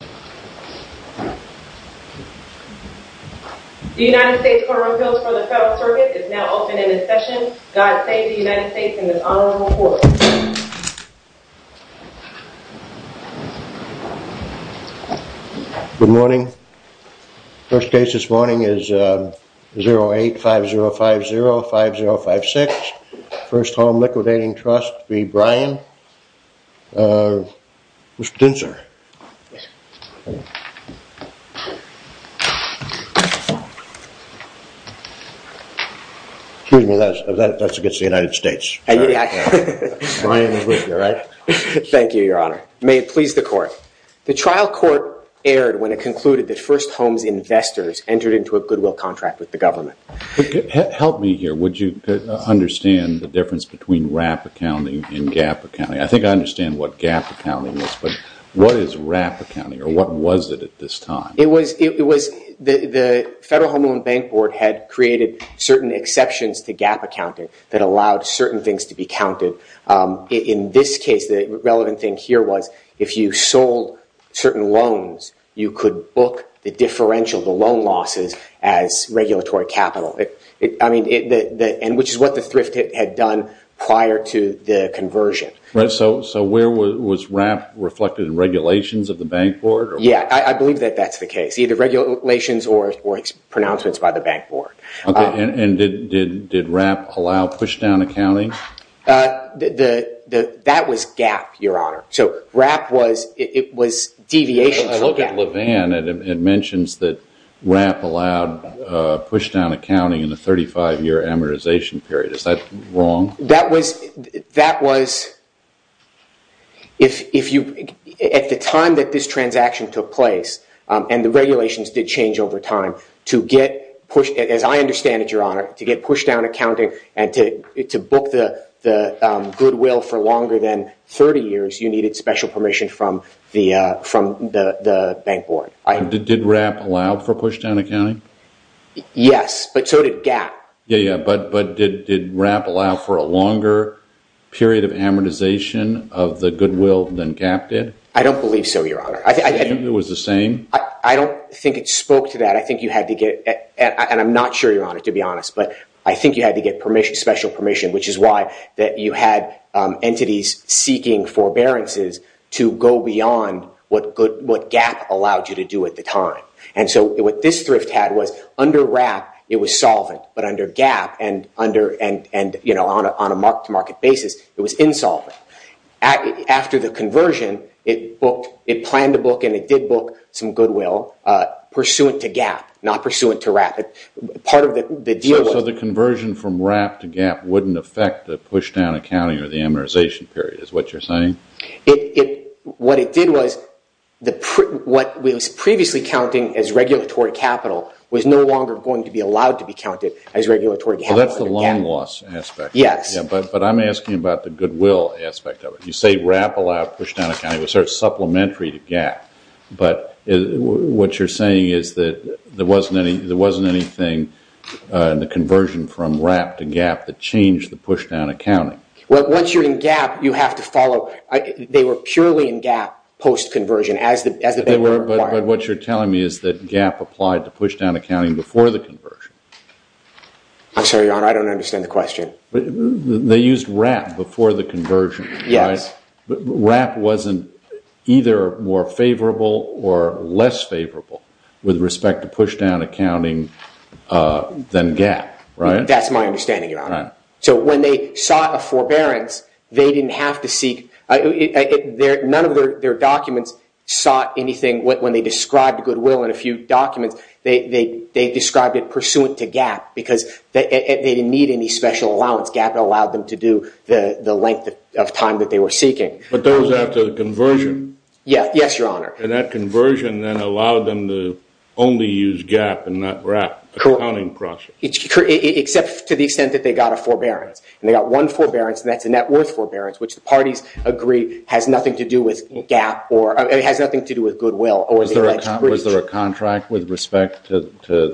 The United States Court of Appeals for the Federal Circuit is now open for discussion. God save the United States in this honorable court. Good morning. First case this morning is 08-5050-5056, 1st Home Liquidating Trust v. Bryan. Mr. Dinser. Excuse me, that's against the United States. Thank you, your honor. May it please the court. The trial court erred when it concluded that 1st Home's investors entered into a goodwill contract with the government. Help me here. Would you understand the difference between RAP accounting and GAP accounting? I think I understand what GAP accounting is, but what is RAP accounting or what was it at this time? It was the Federal Home Loan Bank Board had created certain exceptions to GAP accounting that allowed certain things to be counted. In this case, the relevant thing here was if you sold certain loans, you could book the differential, the loan losses, as regulatory capital, which is what the thrift hit had done prior to the conversion. So where was RAP reflected in regulations of the bank board? Yeah, I believe that that's the case, either regulations or pronouncements by the bank board. Okay, and did RAP allow pushdown accounting? That was GAP, your honor. So RAP was, it was deviations from GAP. I look at Levin and it mentions that RAP allowed pushdown accounting in the 35-year amortization period. Is that wrong? That was, if you, at the time that this transaction took place, and the regulations did change over time, to get, as I understand it, your honor, to get pushdown accounting and to book the goodwill for longer than 30 years, you needed special permission from the bank board. Did RAP allow for pushdown accounting? Yes, but so did GAP. Yeah, yeah, but did RAP allow for a longer period of amortization of the goodwill than GAP did? I don't believe so, your honor. It was the same? I don't think it spoke to that. I think you had to get, and I'm not sure, your honor, to be honest, but I think you had to get permission, special permission, which is why that you had entities seeking forbearances to go beyond what GAP allowed you to do at the time. And so what this thrift had was, under RAP, it was solvent, but under GAP and, you know, on a market-to-market basis, it was insolvent. After the conversion, it planned to book and it did book some goodwill pursuant to GAP, not pursuant to RAP. So the conversion from RAP to GAP wouldn't affect the pushdown accounting or the amortization period, is what you're saying? What it did was, what was previously counting as regulatory capital was no longer going to be allowed to be counted as regulatory capital. Well, that's the loan loss aspect. Yes. Yeah, but I'm asking about the goodwill aspect of it. You say RAP allowed pushdown accounting. Was there a supplementary to GAP? But what you're saying is that there wasn't anything in the conversion from RAP to GAP that changed the pushdown accounting. Well, once you're in GAP, you have to follow – they were purely in GAP post-conversion as the – But what you're telling me is that GAP applied to pushdown accounting before the conversion. I'm sorry, Your Honor, I don't understand the question. They used RAP before the conversion, right? Yes. But RAP wasn't either more favorable or less favorable with respect to pushdown accounting than GAP, right? That's my understanding, Your Honor. So when they sought a forbearance, they didn't have to seek – none of their documents sought anything. When they described goodwill in a few documents, they described it pursuant to GAP because they didn't need any special allowance. GAP allowed them to do the length of time that they were seeking. But those after the conversion? Yes, Your Honor. And that conversion then allowed them to only use GAP and not RAP, the accounting process? Except to the extent that they got a forbearance. And they got one forbearance, and that's a net worth forbearance, which the parties agree has nothing to do with GAP or – it has nothing to do with goodwill or the alleged breach. Was there a contract with respect to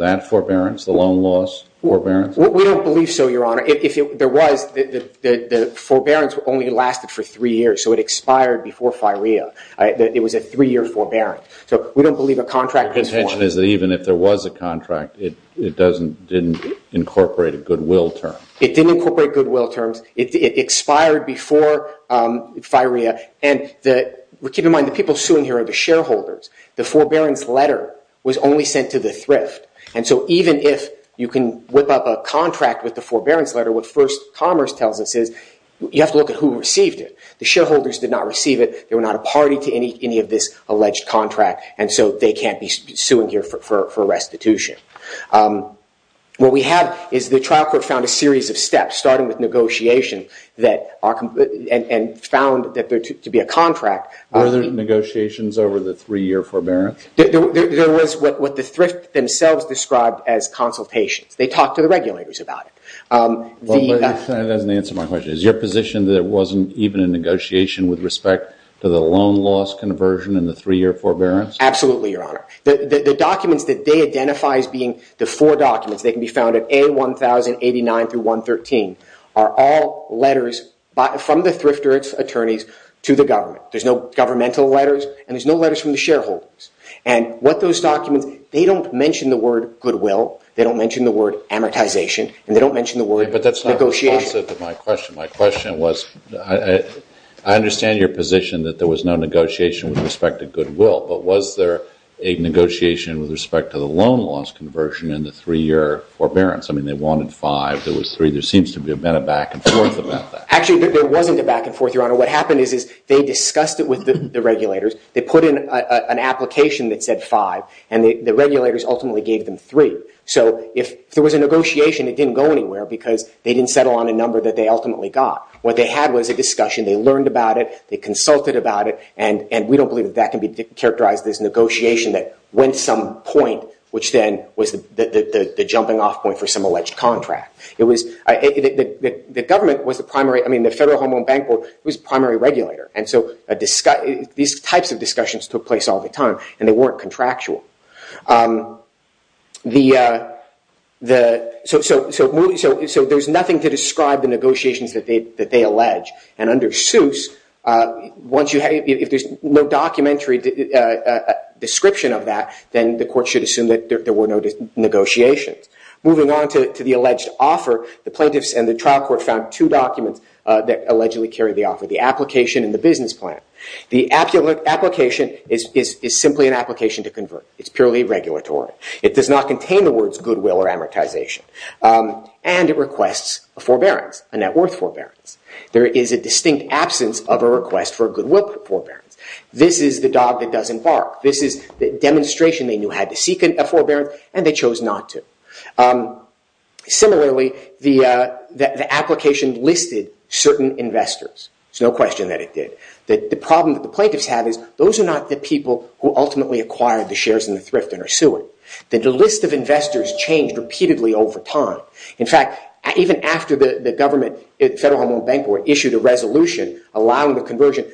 that forbearance, the loan loss forbearance? We don't believe so, Your Honor. If there was, the forbearance only lasted for three years, so it expired before FIREA. It was a three-year forbearance. So we don't believe a contract was formed. Your contention is that even if there was a contract, it didn't incorporate a goodwill term? It didn't incorporate goodwill terms. It expired before FIREA. And keep in mind, the people suing here are the shareholders. The forbearance letter was only sent to the thrift. And so even if you can whip up a contract with the forbearance letter, what First Commerce tells us is you have to look at who received it. The shareholders did not receive it. They were not a party to any of this alleged contract, and so they can't be suing here for restitution. What we have is the trial court found a series of steps, starting with negotiation, and found that there to be a contract. Were there negotiations over the three-year forbearance? There was what the thrift themselves described as consultations. They talked to the regulators about it. That doesn't answer my question. Is your position that there wasn't even a negotiation with respect to the loan loss conversion and the three-year forbearance? Absolutely, Your Honor. The documents that they identify as being the four documents, they can be found at A1089-113, are all letters from the thrift attorneys to the government. There's no governmental letters, and there's no letters from the shareholders. And what those documents, they don't mention the word goodwill. They don't mention the word amortization, and they don't mention the word negotiation. But that's not responsive to my question. My question was, I understand your position that there was no negotiation with respect to goodwill. But was there a negotiation with respect to the loan loss conversion and the three-year forbearance? I mean, they wanted five. There was three. There seems to have been a back-and-forth about that. Actually, there wasn't a back-and-forth, Your Honor. What happened is they discussed it with the regulators. They put in an application that said five, and the regulators ultimately gave them three. So if there was a negotiation, it didn't go anywhere because they didn't settle on a number that they ultimately got. What they had was a discussion. They learned about it. They consulted about it. And we don't believe that that can be characterized as negotiation that went to some point, which then was the jumping-off point for some alleged contract. The government was the primary – I mean, the Federal Home Owned Bank Board was the primary regulator. And so these types of discussions took place all the time, and they weren't contractual. So there's nothing to describe the negotiations that they allege. And under Seuss, if there's no documentary description of that, then the court should assume that there were no negotiations. Moving on to the alleged offer, the plaintiffs and the trial court found two documents that allegedly carry the offer, the application and the business plan. The application is simply an application to convert. It's purely regulatory. It does not contain the words goodwill or amortization. And it requests a forbearance, a net worth forbearance. There is a distinct absence of a request for a goodwill forbearance. This is the dog that doesn't bark. This is the demonstration they knew had to seek a forbearance, and they chose not to. Similarly, the application listed certain investors. There's no question that it did. The problem that the plaintiffs have is those are not the people who ultimately acquired the shares in the thrift and are suing. The list of investors changed repeatedly over time. In fact, even after the government, the Federal Home Owned Bank issued a resolution allowing the conversion,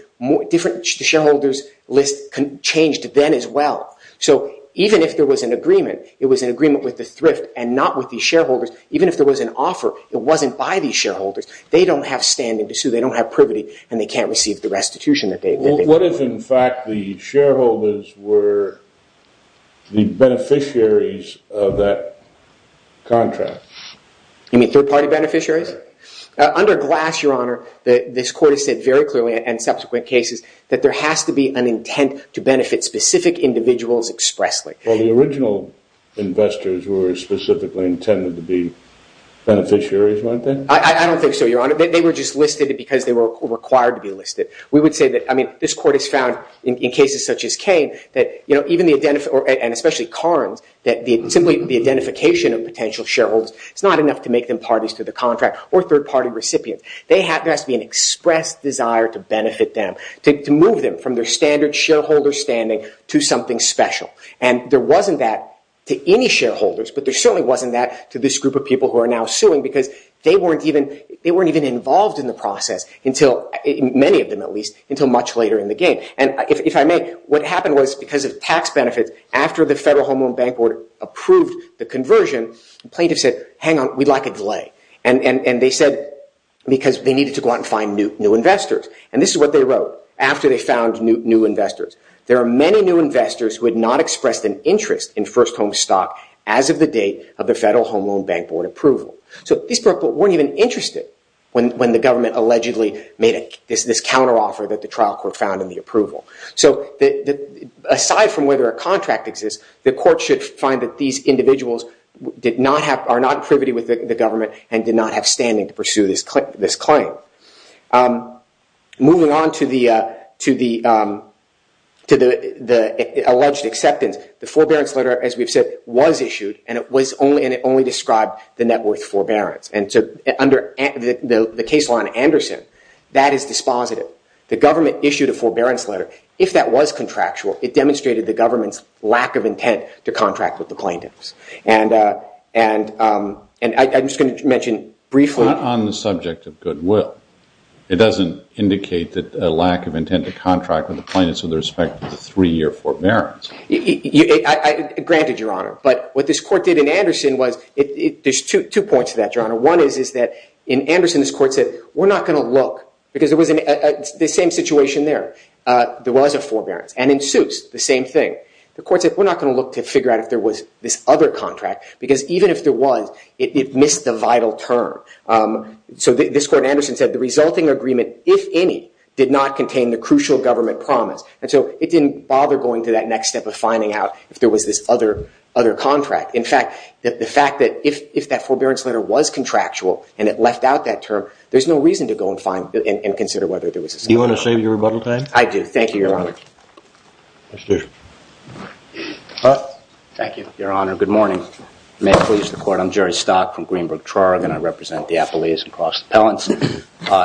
different shareholders' lists changed then as well. So even if there was an agreement, it was an agreement with the thrift and not with the shareholders. Even if there was an offer, it wasn't by the shareholders. They don't have standing to sue. They don't have privity, and they can't receive the restitution that they want. What if, in fact, the shareholders were the beneficiaries of that contract? You mean third-party beneficiaries? Under Glass, Your Honor, this Court has said very clearly in subsequent cases that there has to be an intent to benefit specific individuals expressly. Well, the original investors were specifically intended to be beneficiaries, weren't they? I don't think so, Your Honor. We would say that this Court has found in cases such as Kane and especially Carnes that simply the identification of potential shareholders is not enough to make them parties to the contract or third-party recipients. There has to be an express desire to benefit them, to move them from their standard shareholder standing to something special. And there wasn't that to any shareholders, but there certainly wasn't that to this group of people who are now suing because they weren't even involved in the process, many of them at least, until much later in the game. And if I may, what happened was because of tax benefits, after the Federal Home Loan Bank Board approved the conversion, plaintiffs said, hang on, we'd like a delay. And they said because they needed to go out and find new investors. And this is what they wrote after they found new investors. There are many new investors who had not expressed an interest in first-home stock as of the date of the Federal Home Loan Bank Board approval. So these people weren't even interested when the government allegedly made this counteroffer that the trial court found in the approval. So aside from whether a contract exists, the court should find that these individuals are not privy with the government and did not have standing to pursue this claim. Moving on to the alleged acceptance, the forbearance letter, as we've said, was issued, and it only described the net worth forbearance. And so under the case law in Anderson, that is dispositive. The government issued a forbearance letter. If that was contractual, it demonstrated the government's lack of intent to contract with the plaintiffs. And I'm just going to mention briefly— Not on the subject of goodwill. It doesn't indicate a lack of intent to contract with the plaintiffs with respect to the three-year forbearance. Granted, Your Honor. But what this court did in Anderson was—there's two points to that, Your Honor. One is that in Anderson, this court said, we're not going to look, because it was the same situation there. There was a forbearance. And in Seuss, the same thing. The court said, we're not going to look to figure out if there was this other contract, because even if there was, it missed the vital term. So this court in Anderson said, the resulting agreement, if any, did not contain the crucial government promise. And so it didn't bother going to that next step of finding out if there was this other contract. In fact, the fact that if that forbearance letter was contractual and it left out that term, there's no reason to go and consider whether there was a— Do you want to save your rebuttal time? I do. Thank you, Your Honor. Thank you, Your Honor. Good morning. May it please the Court, I'm Jerry Stock from Greenbrook-Trarigan. I represent the Appellees and Cross Appellants.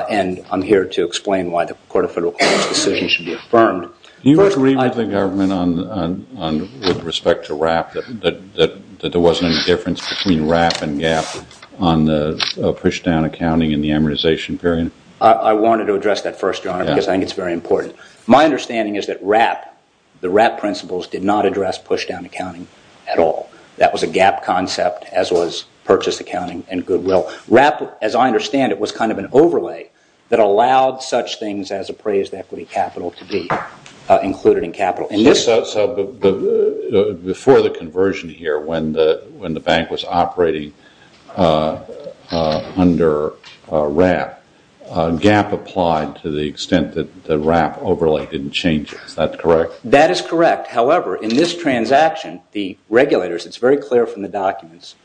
And I'm here to explain why the Court of Federal Courts' decision should be affirmed. Can you rebut the argument with respect to WRAP that there wasn't any difference between WRAP and GAAP on the pushdown accounting and the amortization period? I wanted to address that first, Your Honor, because I think it's very important. My understanding is that WRAP, the WRAP principles, did not address pushdown accounting at all. That was a GAAP concept, as was purchase accounting and goodwill. WRAP, as I understand it, was kind of an overlay that allowed such things as appraised equity capital to be included in capital. So before the conversion here, when the bank was operating under WRAP, GAAP applied to the extent that the WRAP overlay didn't change it. Is that correct? That is correct. However, in this transaction, the regulators, it's very clear from the documents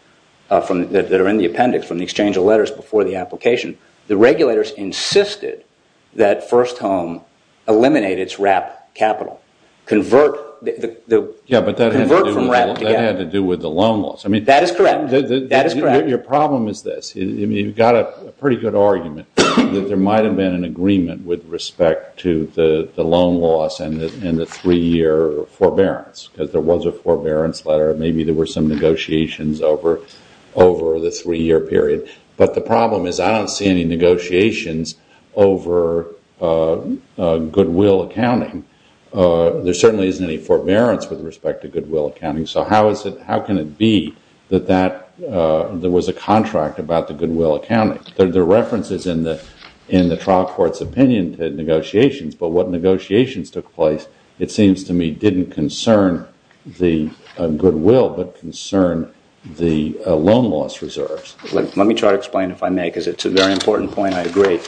that are in the appendix, from the exchange of letters before the application, the regulators insisted that First Home eliminate its WRAP capital, convert from WRAP to GAAP. Yeah, but that had to do with the loan loss. That is correct. Your problem is this. You've got a pretty good argument that there might have been an agreement with respect to the loan loss and the three-year forbearance, because there was a forbearance letter. Maybe there were some negotiations over the three-year period. But the problem is I don't see any negotiations over goodwill accounting. There certainly isn't any forbearance with respect to goodwill accounting. So how can it be that there was a contract about the goodwill accounting? There are references in the trial court's opinion to negotiations. But what negotiations took place, it seems to me, didn't concern the goodwill but concerned the loan loss reserves. Let me try to explain if I may, because it's a very important point. I agree.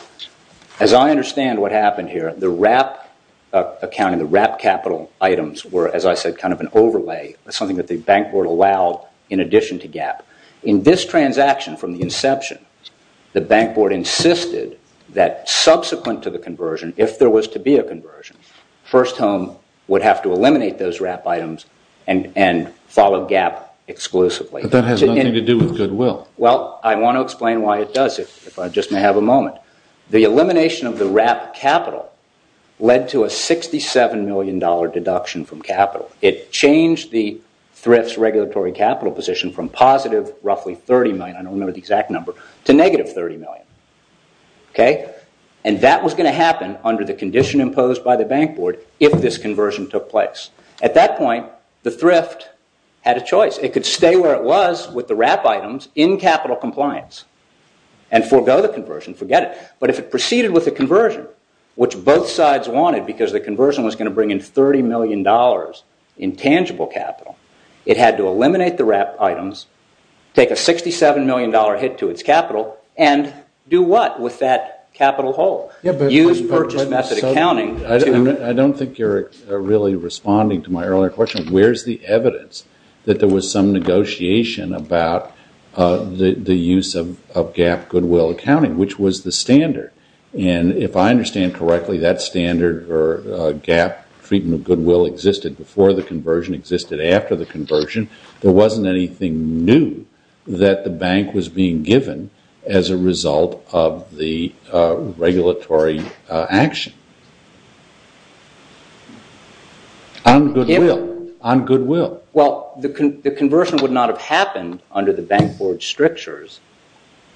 As I understand what happened here, the WRAP accounting, the WRAP capital items were, as I said, kind of an overlay, something that the bank board allowed in addition to GAAP. In this transaction from the inception, the bank board insisted that subsequent to the conversion, if there was to be a conversion, First Home would have to eliminate those WRAP items and follow GAAP exclusively. But that has nothing to do with goodwill. Well, I want to explain why it does, if I just may have a moment. The elimination of the WRAP capital led to a $67 million deduction from capital. It changed the Thrift's regulatory capital position from positive roughly $30 million, I don't remember the exact number, to negative $30 million. And that was going to happen under the condition imposed by the bank board if this conversion took place. At that point, the Thrift had a choice. It could stay where it was with the WRAP items in capital compliance and forego the conversion, forget it. But if it proceeded with the conversion, which both sides wanted, because the conversion was going to bring in $30 million in tangible capital, it had to eliminate the WRAP items, take a $67 million hit to its capital, and do what with that capital hold? Use purchase method accounting. I don't think you're really responding to my earlier question. Where's the evidence that there was some negotiation about the use of GAAP goodwill accounting, which was the standard? And if I understand correctly, that standard or GAAP treatment of goodwill existed before the conversion, existed after the conversion. There wasn't anything new that the bank was being given as a result of the regulatory action on goodwill. Well, the conversion would not have happened under the bank board's strictures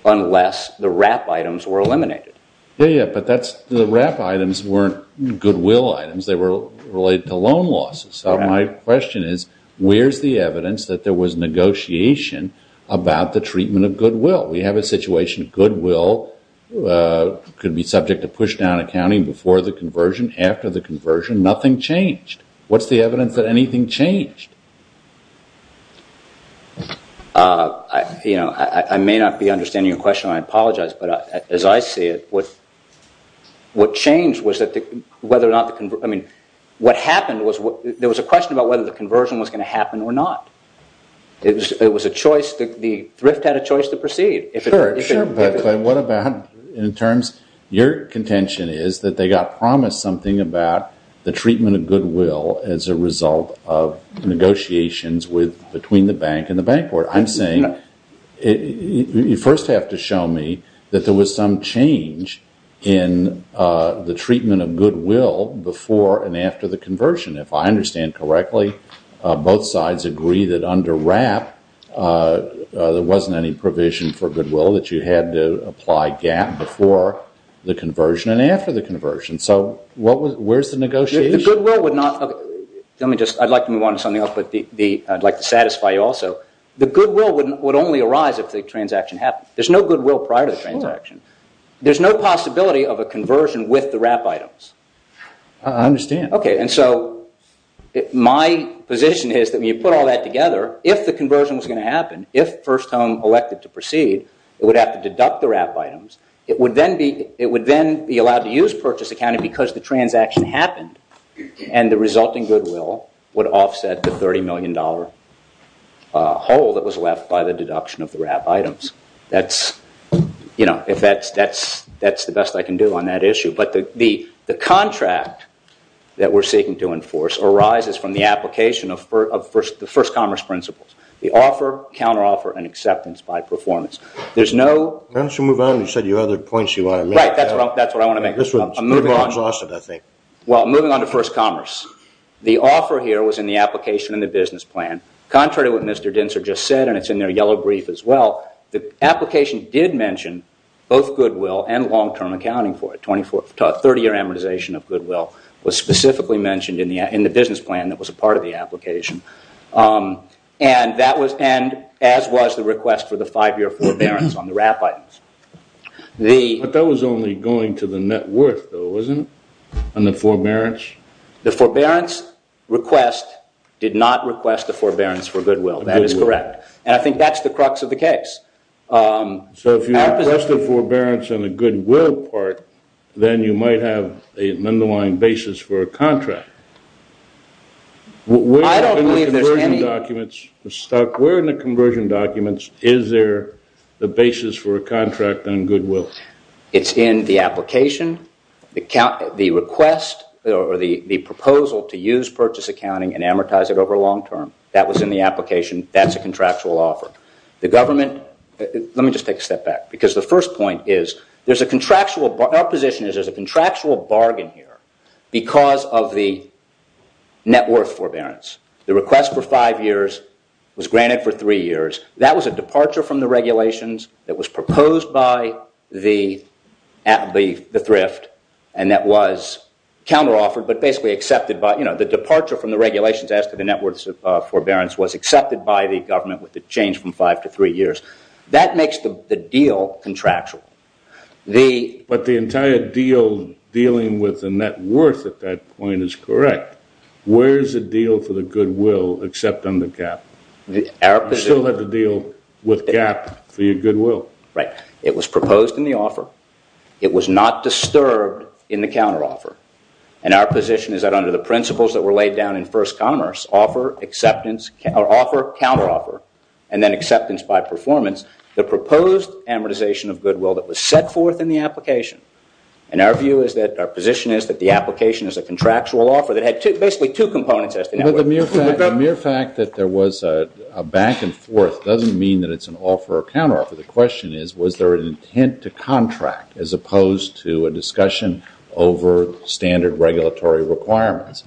unless the WRAP items were eliminated. Yeah, yeah, but the WRAP items weren't goodwill items. They were related to loan losses. So my question is, where's the evidence that there was negotiation about the treatment of goodwill? We have a situation. Goodwill could be subject to pushdown accounting before the conversion, after the conversion. Nothing changed. What's the evidence that anything changed? You know, I may not be understanding your question, and I apologize, but as I see it, there was a question about whether the conversion was going to happen or not. It was a choice. The thrift had a choice to proceed. Sure, but what about in terms, your contention is that they got promised something about the treatment of goodwill as a result of negotiations between the bank and the bank board. I'm saying you first have to show me that there was some change in the treatment of goodwill before and after the conversion. If I understand correctly, both sides agree that under WRAP there wasn't any provision for goodwill, that you had to apply GAAP before the conversion and after the conversion. So where's the negotiation? The goodwill would not, let me just, I'd like to move on to something else, but I'd like to satisfy you also. The goodwill would only arise if the transaction happened. There's no goodwill prior to the transaction. There's no possibility of a conversion with the WRAP items. I understand. Okay, and so my position is that when you put all that together, if the conversion was going to happen, if First Home elected to proceed, it would have to deduct the WRAP items. It would then be allowed to use purchase accounting because the transaction happened and the resulting goodwill would offset the $30 million hole that was left by the deduction of the WRAP items. That's the best I can do on that issue. But the contract that we're seeking to enforce arises from the application of the first commerce principles, the offer, counteroffer, and acceptance by performance. Why don't you move on? You said you had other points you wanted to make. Right, that's what I want to make. I'm moving on to first commerce. The offer here was in the application in the business plan. Contrary to what Mr. Dintzer just said, and it's in their yellow brief as well, the application did mention both goodwill and long-term accounting for it. 30-year amortization of goodwill was specifically mentioned in the business plan that was a part of the application, and as was the request for the five-year forbearance on the WRAP items. But that was only going to the net worth, though, wasn't it, on the forbearance? The forbearance request did not request the forbearance for goodwill. That is correct, and I think that's the crux of the case. So if you request the forbearance on the goodwill part, then you might have an underlying basis for a contract. Where in the conversion documents is there the basis for a contract on goodwill? It's in the application. The request or the proposal to use purchase accounting and amortize it over long-term, that was in the application. That's a contractual offer. The government, let me just take a step back, because the first point is there's a contractual, our position is there's a contractual bargain here because of the net worth forbearance. The request for five years was granted for three years. That was a departure from the regulations that was proposed by the thrift, and that was counter-offered, but basically accepted by, you know, the departure from the regulations as to the net worth forbearance was accepted by the government with the change from five to three years. That makes the deal contractual. But the entire deal dealing with the net worth at that point is correct. Where is the deal for the goodwill except on the gap? You still have to deal with gap for your goodwill. Right. It was proposed in the offer. It was not disturbed in the counter-offer, and our position is that under the principles that were laid down in first commerce, offer, acceptance, or offer, counter-offer, and then acceptance by performance, the proposed amortization of goodwill that was set forth in the application, and our view is that our position is that the application is a contractual offer that had basically two components as to net worth. The mere fact that there was a back and forth doesn't mean that it's an offer or counter-offer. The question is, was there an intent to contract as opposed to a discussion over standard regulatory requirements?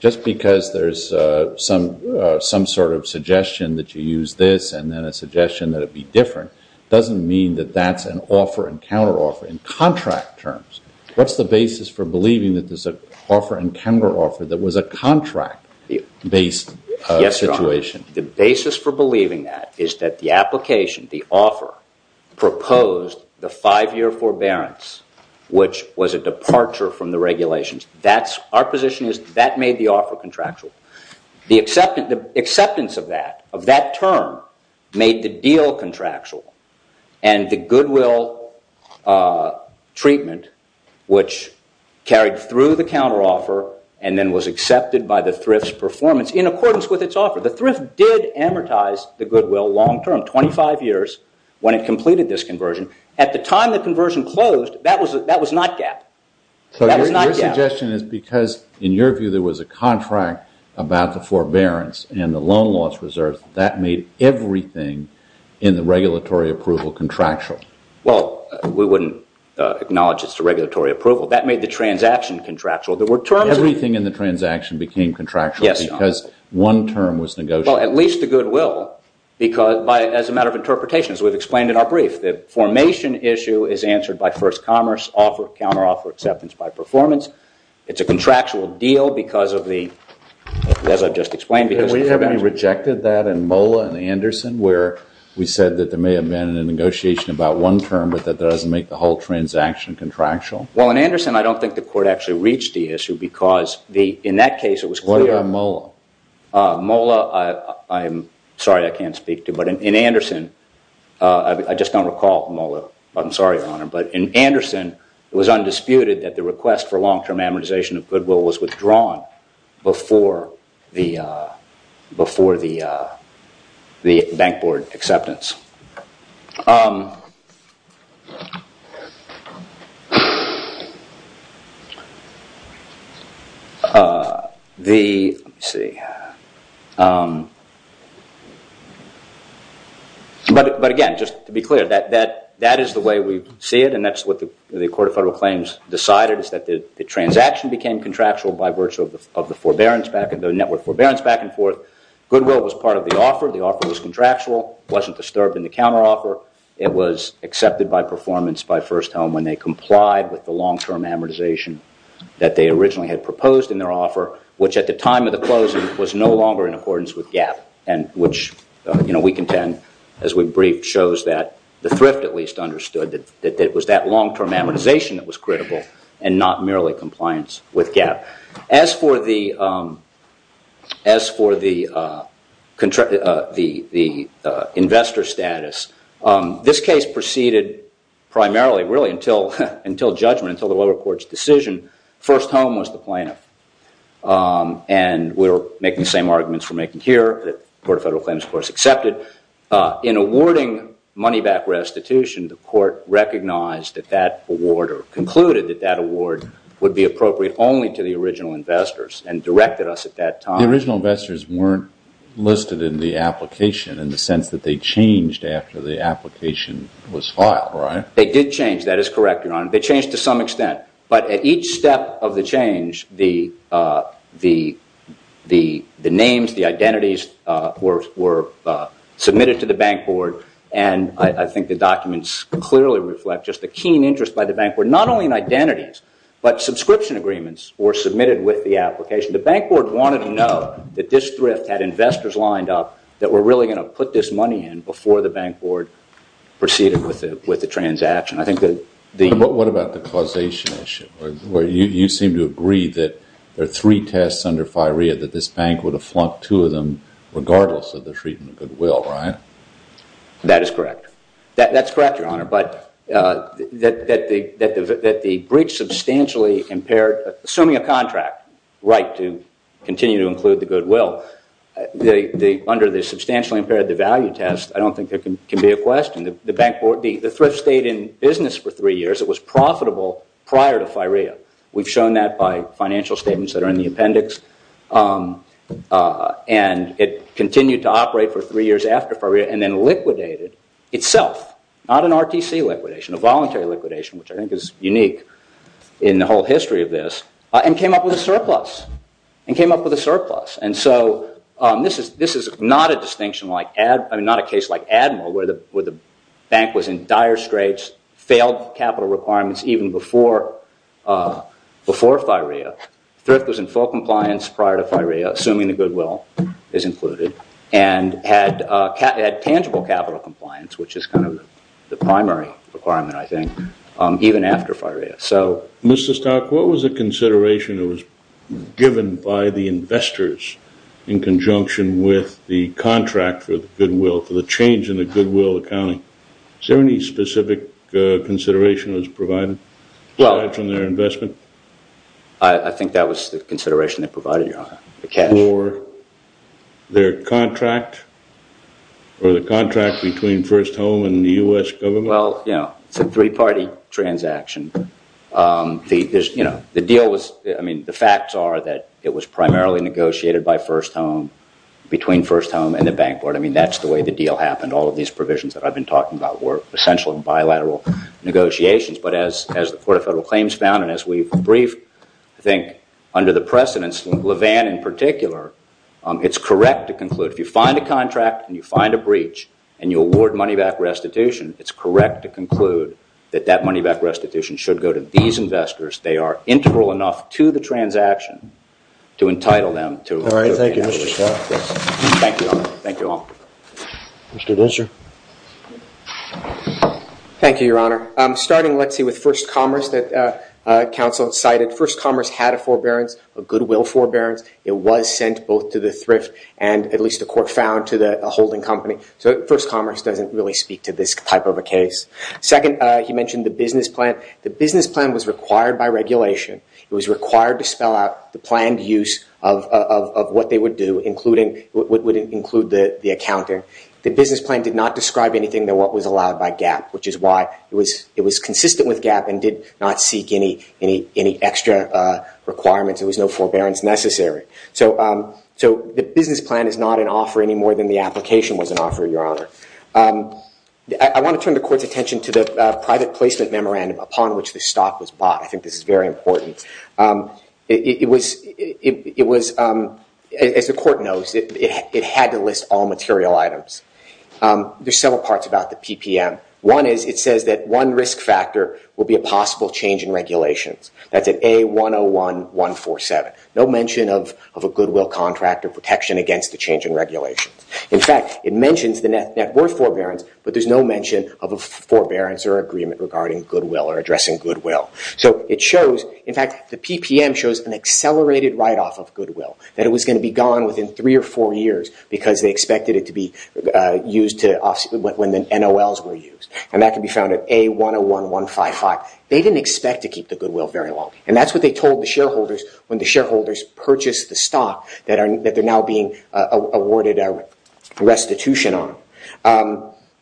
Just because there's some sort of suggestion that you use this and then a suggestion that it be different, doesn't mean that that's an offer and counter-offer in contract terms. What's the basis for believing that there's an offer and counter-offer that was a contract-based situation? The basis for believing that is that the application, the offer, proposed the five-year forbearance, which was a departure from the regulations. Our position is that made the offer contractual. The acceptance of that, of that term, made the deal contractual, and the goodwill treatment, which carried through the counter-offer and then was accepted by the thrift's performance in accordance with its offer. The thrift did amortize the goodwill long-term, 25 years when it completed this conversion. At the time the conversion closed, that was not GAAP. So your suggestion is because, in your view, there was a contract about the forbearance and the loan loss reserves, that made everything in the regulatory approval contractual? Well, we wouldn't acknowledge it's the regulatory approval. That made the transaction contractual. Everything in the transaction became contractual because one term was negotiated. Well, at least the goodwill, as a matter of interpretation, as we've explained in our brief, if the formation issue is answered by first commerce, counter-offer acceptance by performance, it's a contractual deal because of the, as I've just explained. We haven't rejected that in MOLA and Anderson, where we said that there may have been a negotiation about one term, but that doesn't make the whole transaction contractual? Well, in Anderson, I don't think the court actually reached the issue because, in that case, it was clear. What about MOLA? MOLA, I'm sorry I can't speak to, but in Anderson, I just don't recall MOLA. I'm sorry, Your Honor. But in Anderson, it was undisputed that the request for long-term amortization of goodwill was withdrawn before the bank board acceptance. But again, just to be clear, that is the way we see it, and that's what the Court of Federal Claims decided, is that the transaction became contractual by virtue of the network forbearance back and forth. Goodwill was part of the offer. The offer was contractual. It wasn't disturbed in the counteroffer. It was accepted by performance by First Home when they complied with the long-term amortization that they originally had proposed in their offer, which at the time of the closing was no longer in accordance with GAAP, and which we contend, as we briefed, shows that the thrift at least understood that it was that long-term amortization that was critical and not merely compliance with GAAP. As for the investor status, this case proceeded primarily really until judgment, until the lower court's decision. First Home was the plaintiff. And we're making the same arguments we're making here, that the Court of Federal Claims, of course, accepted. In awarding money back restitution, the court recognized that that award or concluded that that award would be appropriate only to the original investors and directed us at that time. The original investors weren't listed in the application in the sense that they changed after the application was filed, right? They did change. That is correct, Your Honor. They changed to some extent. But at each step of the change, the names, the identities were submitted to the bank board, and I think the documents clearly reflect just the keen interest by the bank board, not only in identities, but subscription agreements were submitted with the application. The bank board wanted to know that this thrift had investors lined up that were really going to put this money in before the bank board proceeded with the transaction. What about the causation issue, where you seem to agree that there are three tests under FIREA that this bank would have flunked two of them regardless of the treatment of goodwill, right? That is correct. That's correct, Your Honor, but that the breach substantially impaired, assuming a contract right to continue to include the goodwill, under the substantially impaired, the value test, I don't think there can be a question. The thrift stayed in business for three years. It was profitable prior to FIREA. We've shown that by financial statements that are in the appendix, and it continued to operate for three years after FIREA and then liquidated itself, not an RTC liquidation, a voluntary liquidation, which I think is unique in the whole history of this, and came up with a surplus, and came up with a surplus. And so this is not a case like Admiral, where the bank was in dire straits, failed capital requirements even before FIREA. Thrift was in full compliance prior to FIREA, assuming the goodwill is included, and had tangible capital compliance, which is kind of the primary requirement, I think, even after FIREA. Mr. Stark, what was the consideration that was given by the investors in conjunction with the contract for the goodwill, for the change in the goodwill accounting? Is there any specific consideration that was provided from their investment? I think that was the consideration they provided, Your Honor. For their contract, or the contract between First Home and the U.S. government? Well, you know, it's a three-party transaction. The deal was, I mean, the facts are that it was primarily negotiated by First Home, between First Home and the Bank Board. I mean, that's the way the deal happened. All of these provisions that I've been talking about were essential in bilateral negotiations. But as the Court of Federal Claims found, and as we've briefed, I think, under the precedence, LeVan in particular, it's correct to conclude, if you find a contract, and you find a breach, and you award money back restitution, it's correct to conclude that that money back restitution should go to these investors. They are integral enough to the transaction to entitle them to a repayment. All right, thank you, Mr. Stark. Thank you, Your Honor. Thank you all. Mr. Disser. Thank you, Your Honor. Starting, let's see, with First Commerce that counsel cited. First Commerce had a forbearance, a goodwill forbearance. It was sent both to the thrift and, at least the court found, to the holding company. So First Commerce doesn't really speak to this type of a case. Second, he mentioned the business plan. The business plan was required by regulation. It was required to spell out the planned use of what they would do, including what would include the accounting. The business plan did not describe anything that was allowed by GAAP, which is why it was consistent with GAAP and did not seek any extra requirements. There was no forbearance necessary. So the business plan is not an offer any more than the application was an offer, Your Honor. I want to turn the court's attention to the private placement memorandum upon which the stock was bought. I think this is very important. As the court knows, it had to list all material items. There's several parts about the PPM. One is it says that one risk factor will be a possible change in regulations. That's at A101147. No mention of a goodwill contract or protection against the change in regulations. In fact, it mentions the net worth forbearance, but there's no mention of a forbearance or agreement regarding goodwill or addressing goodwill. In fact, the PPM shows an accelerated write-off of goodwill, that it was going to be gone within three or four years because they expected it to be used when the NOLs were used. And that can be found at A101155. They didn't expect to keep the goodwill very long, and that's what they told the shareholders when the shareholders purchased the stock that they're now being awarded restitution on.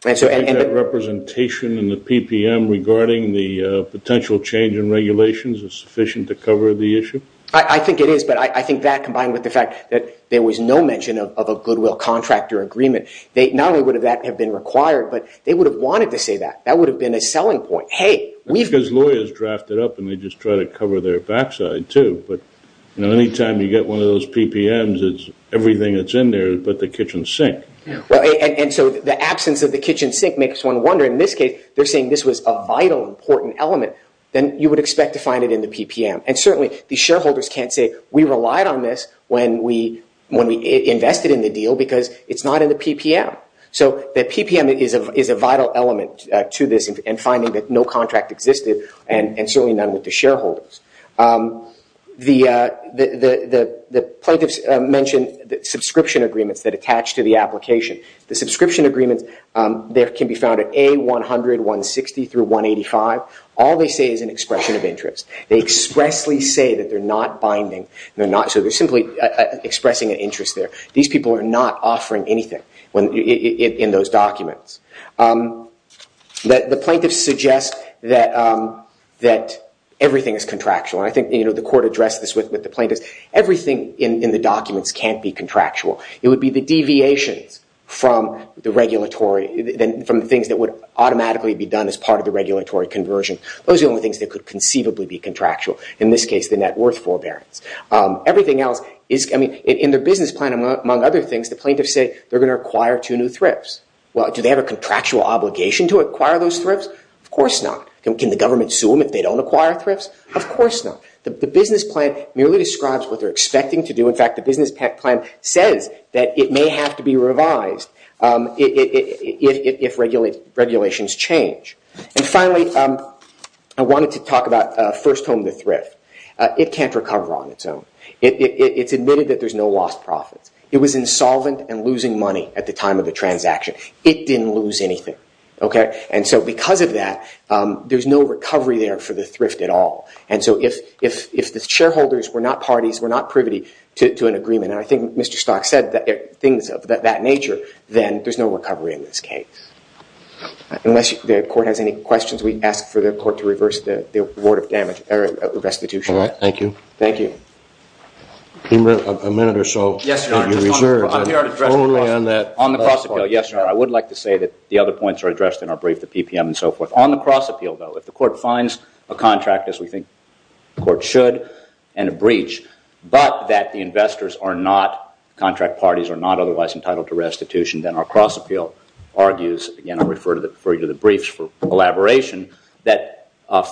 Do you think that representation in the PPM regarding the potential change in regulations is sufficient to cover the issue? I think it is, but I think that combined with the fact that there was no mention of a goodwill contract or agreement, not only would that have been required, but they would have wanted to say that. That would have been a selling point. That's because lawyers draft it up, and they just try to cover their backside, too. Anytime you get one of those PPMs, everything that's in there is but the kitchen sink. And so the absence of the kitchen sink makes one wonder. In this case, they're saying this was a vital, important element. Then you would expect to find it in the PPM. And certainly the shareholders can't say, we relied on this when we invested in the deal because it's not in the PPM. So the PPM is a vital element to this in finding that no contract existed and certainly none with the shareholders. The plaintiffs mentioned subscription agreements that attach to the application. The subscription agreements can be found at A100, 160 through 185. All they say is an expression of interest. They expressly say that they're not binding. So they're simply expressing an interest there. These people are not offering anything in those documents. The plaintiffs suggest that everything is contractual. I think the court addressed this with the plaintiffs. Everything in the documents can't be contractual. It would be the deviations from the things that would automatically be done as part of the regulatory conversion. Those are the only things that could conceivably be contractual. In this case, the net worth forbearance. In their business plan, among other things, the plaintiffs say they're going to acquire two new thrifts. Do they have a contractual obligation to acquire those thrifts? Of course not. Can the government sue them if they don't acquire thrifts? Of course not. The business plan merely describes what they're expecting to do. In fact, the business plan says that it may have to be revised if regulations change. Finally, I wanted to talk about First Home to Thrift. It can't recover on its own. It's admitted that there's no lost profits. It was insolvent and losing money at the time of the transaction. It didn't lose anything. Because of that, there's no recovery there for the thrift at all. If the shareholders were not parties, were not privy to an agreement, and I think Mr. Stock said things of that nature, then there's no recovery in this case. Unless the court has any questions, we ask for the court to reverse the restitution. Thank you. Thank you. A minute or so. Yes, sir. On the cross appeal, yes, sir. I would like to say that the other points are addressed in our brief, the PPM and so forth. On the cross appeal, though, if the court finds a contract, as we think the court should, and a breach, but that the investors are not, contract parties are not otherwise entitled to restitution, then our cross appeal argues, again, I'll refer you to the briefs for elaboration, that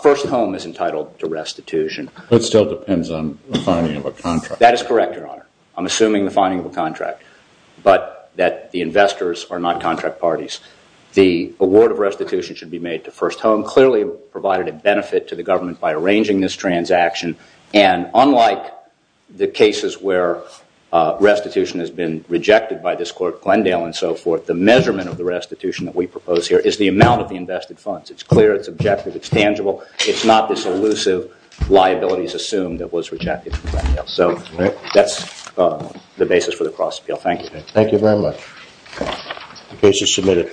First Home is entitled to restitution. It still depends on the finding of a contract. That is correct, Your Honor. I'm assuming the finding of a contract, but that the investors are not contract parties. The award of restitution should be made to First Home. Clearly provided a benefit to the government by arranging this transaction, and unlike the cases where restitution has been rejected by this court, Glendale and so forth, the measurement of the restitution that we propose here is the amount of the invested funds. It's clear, it's objective, it's tangible. It's not this elusive liabilities assumed that was rejected in Glendale. So that's the basis for the cross appeal. Thank you. Thank you very much. The case is submitted.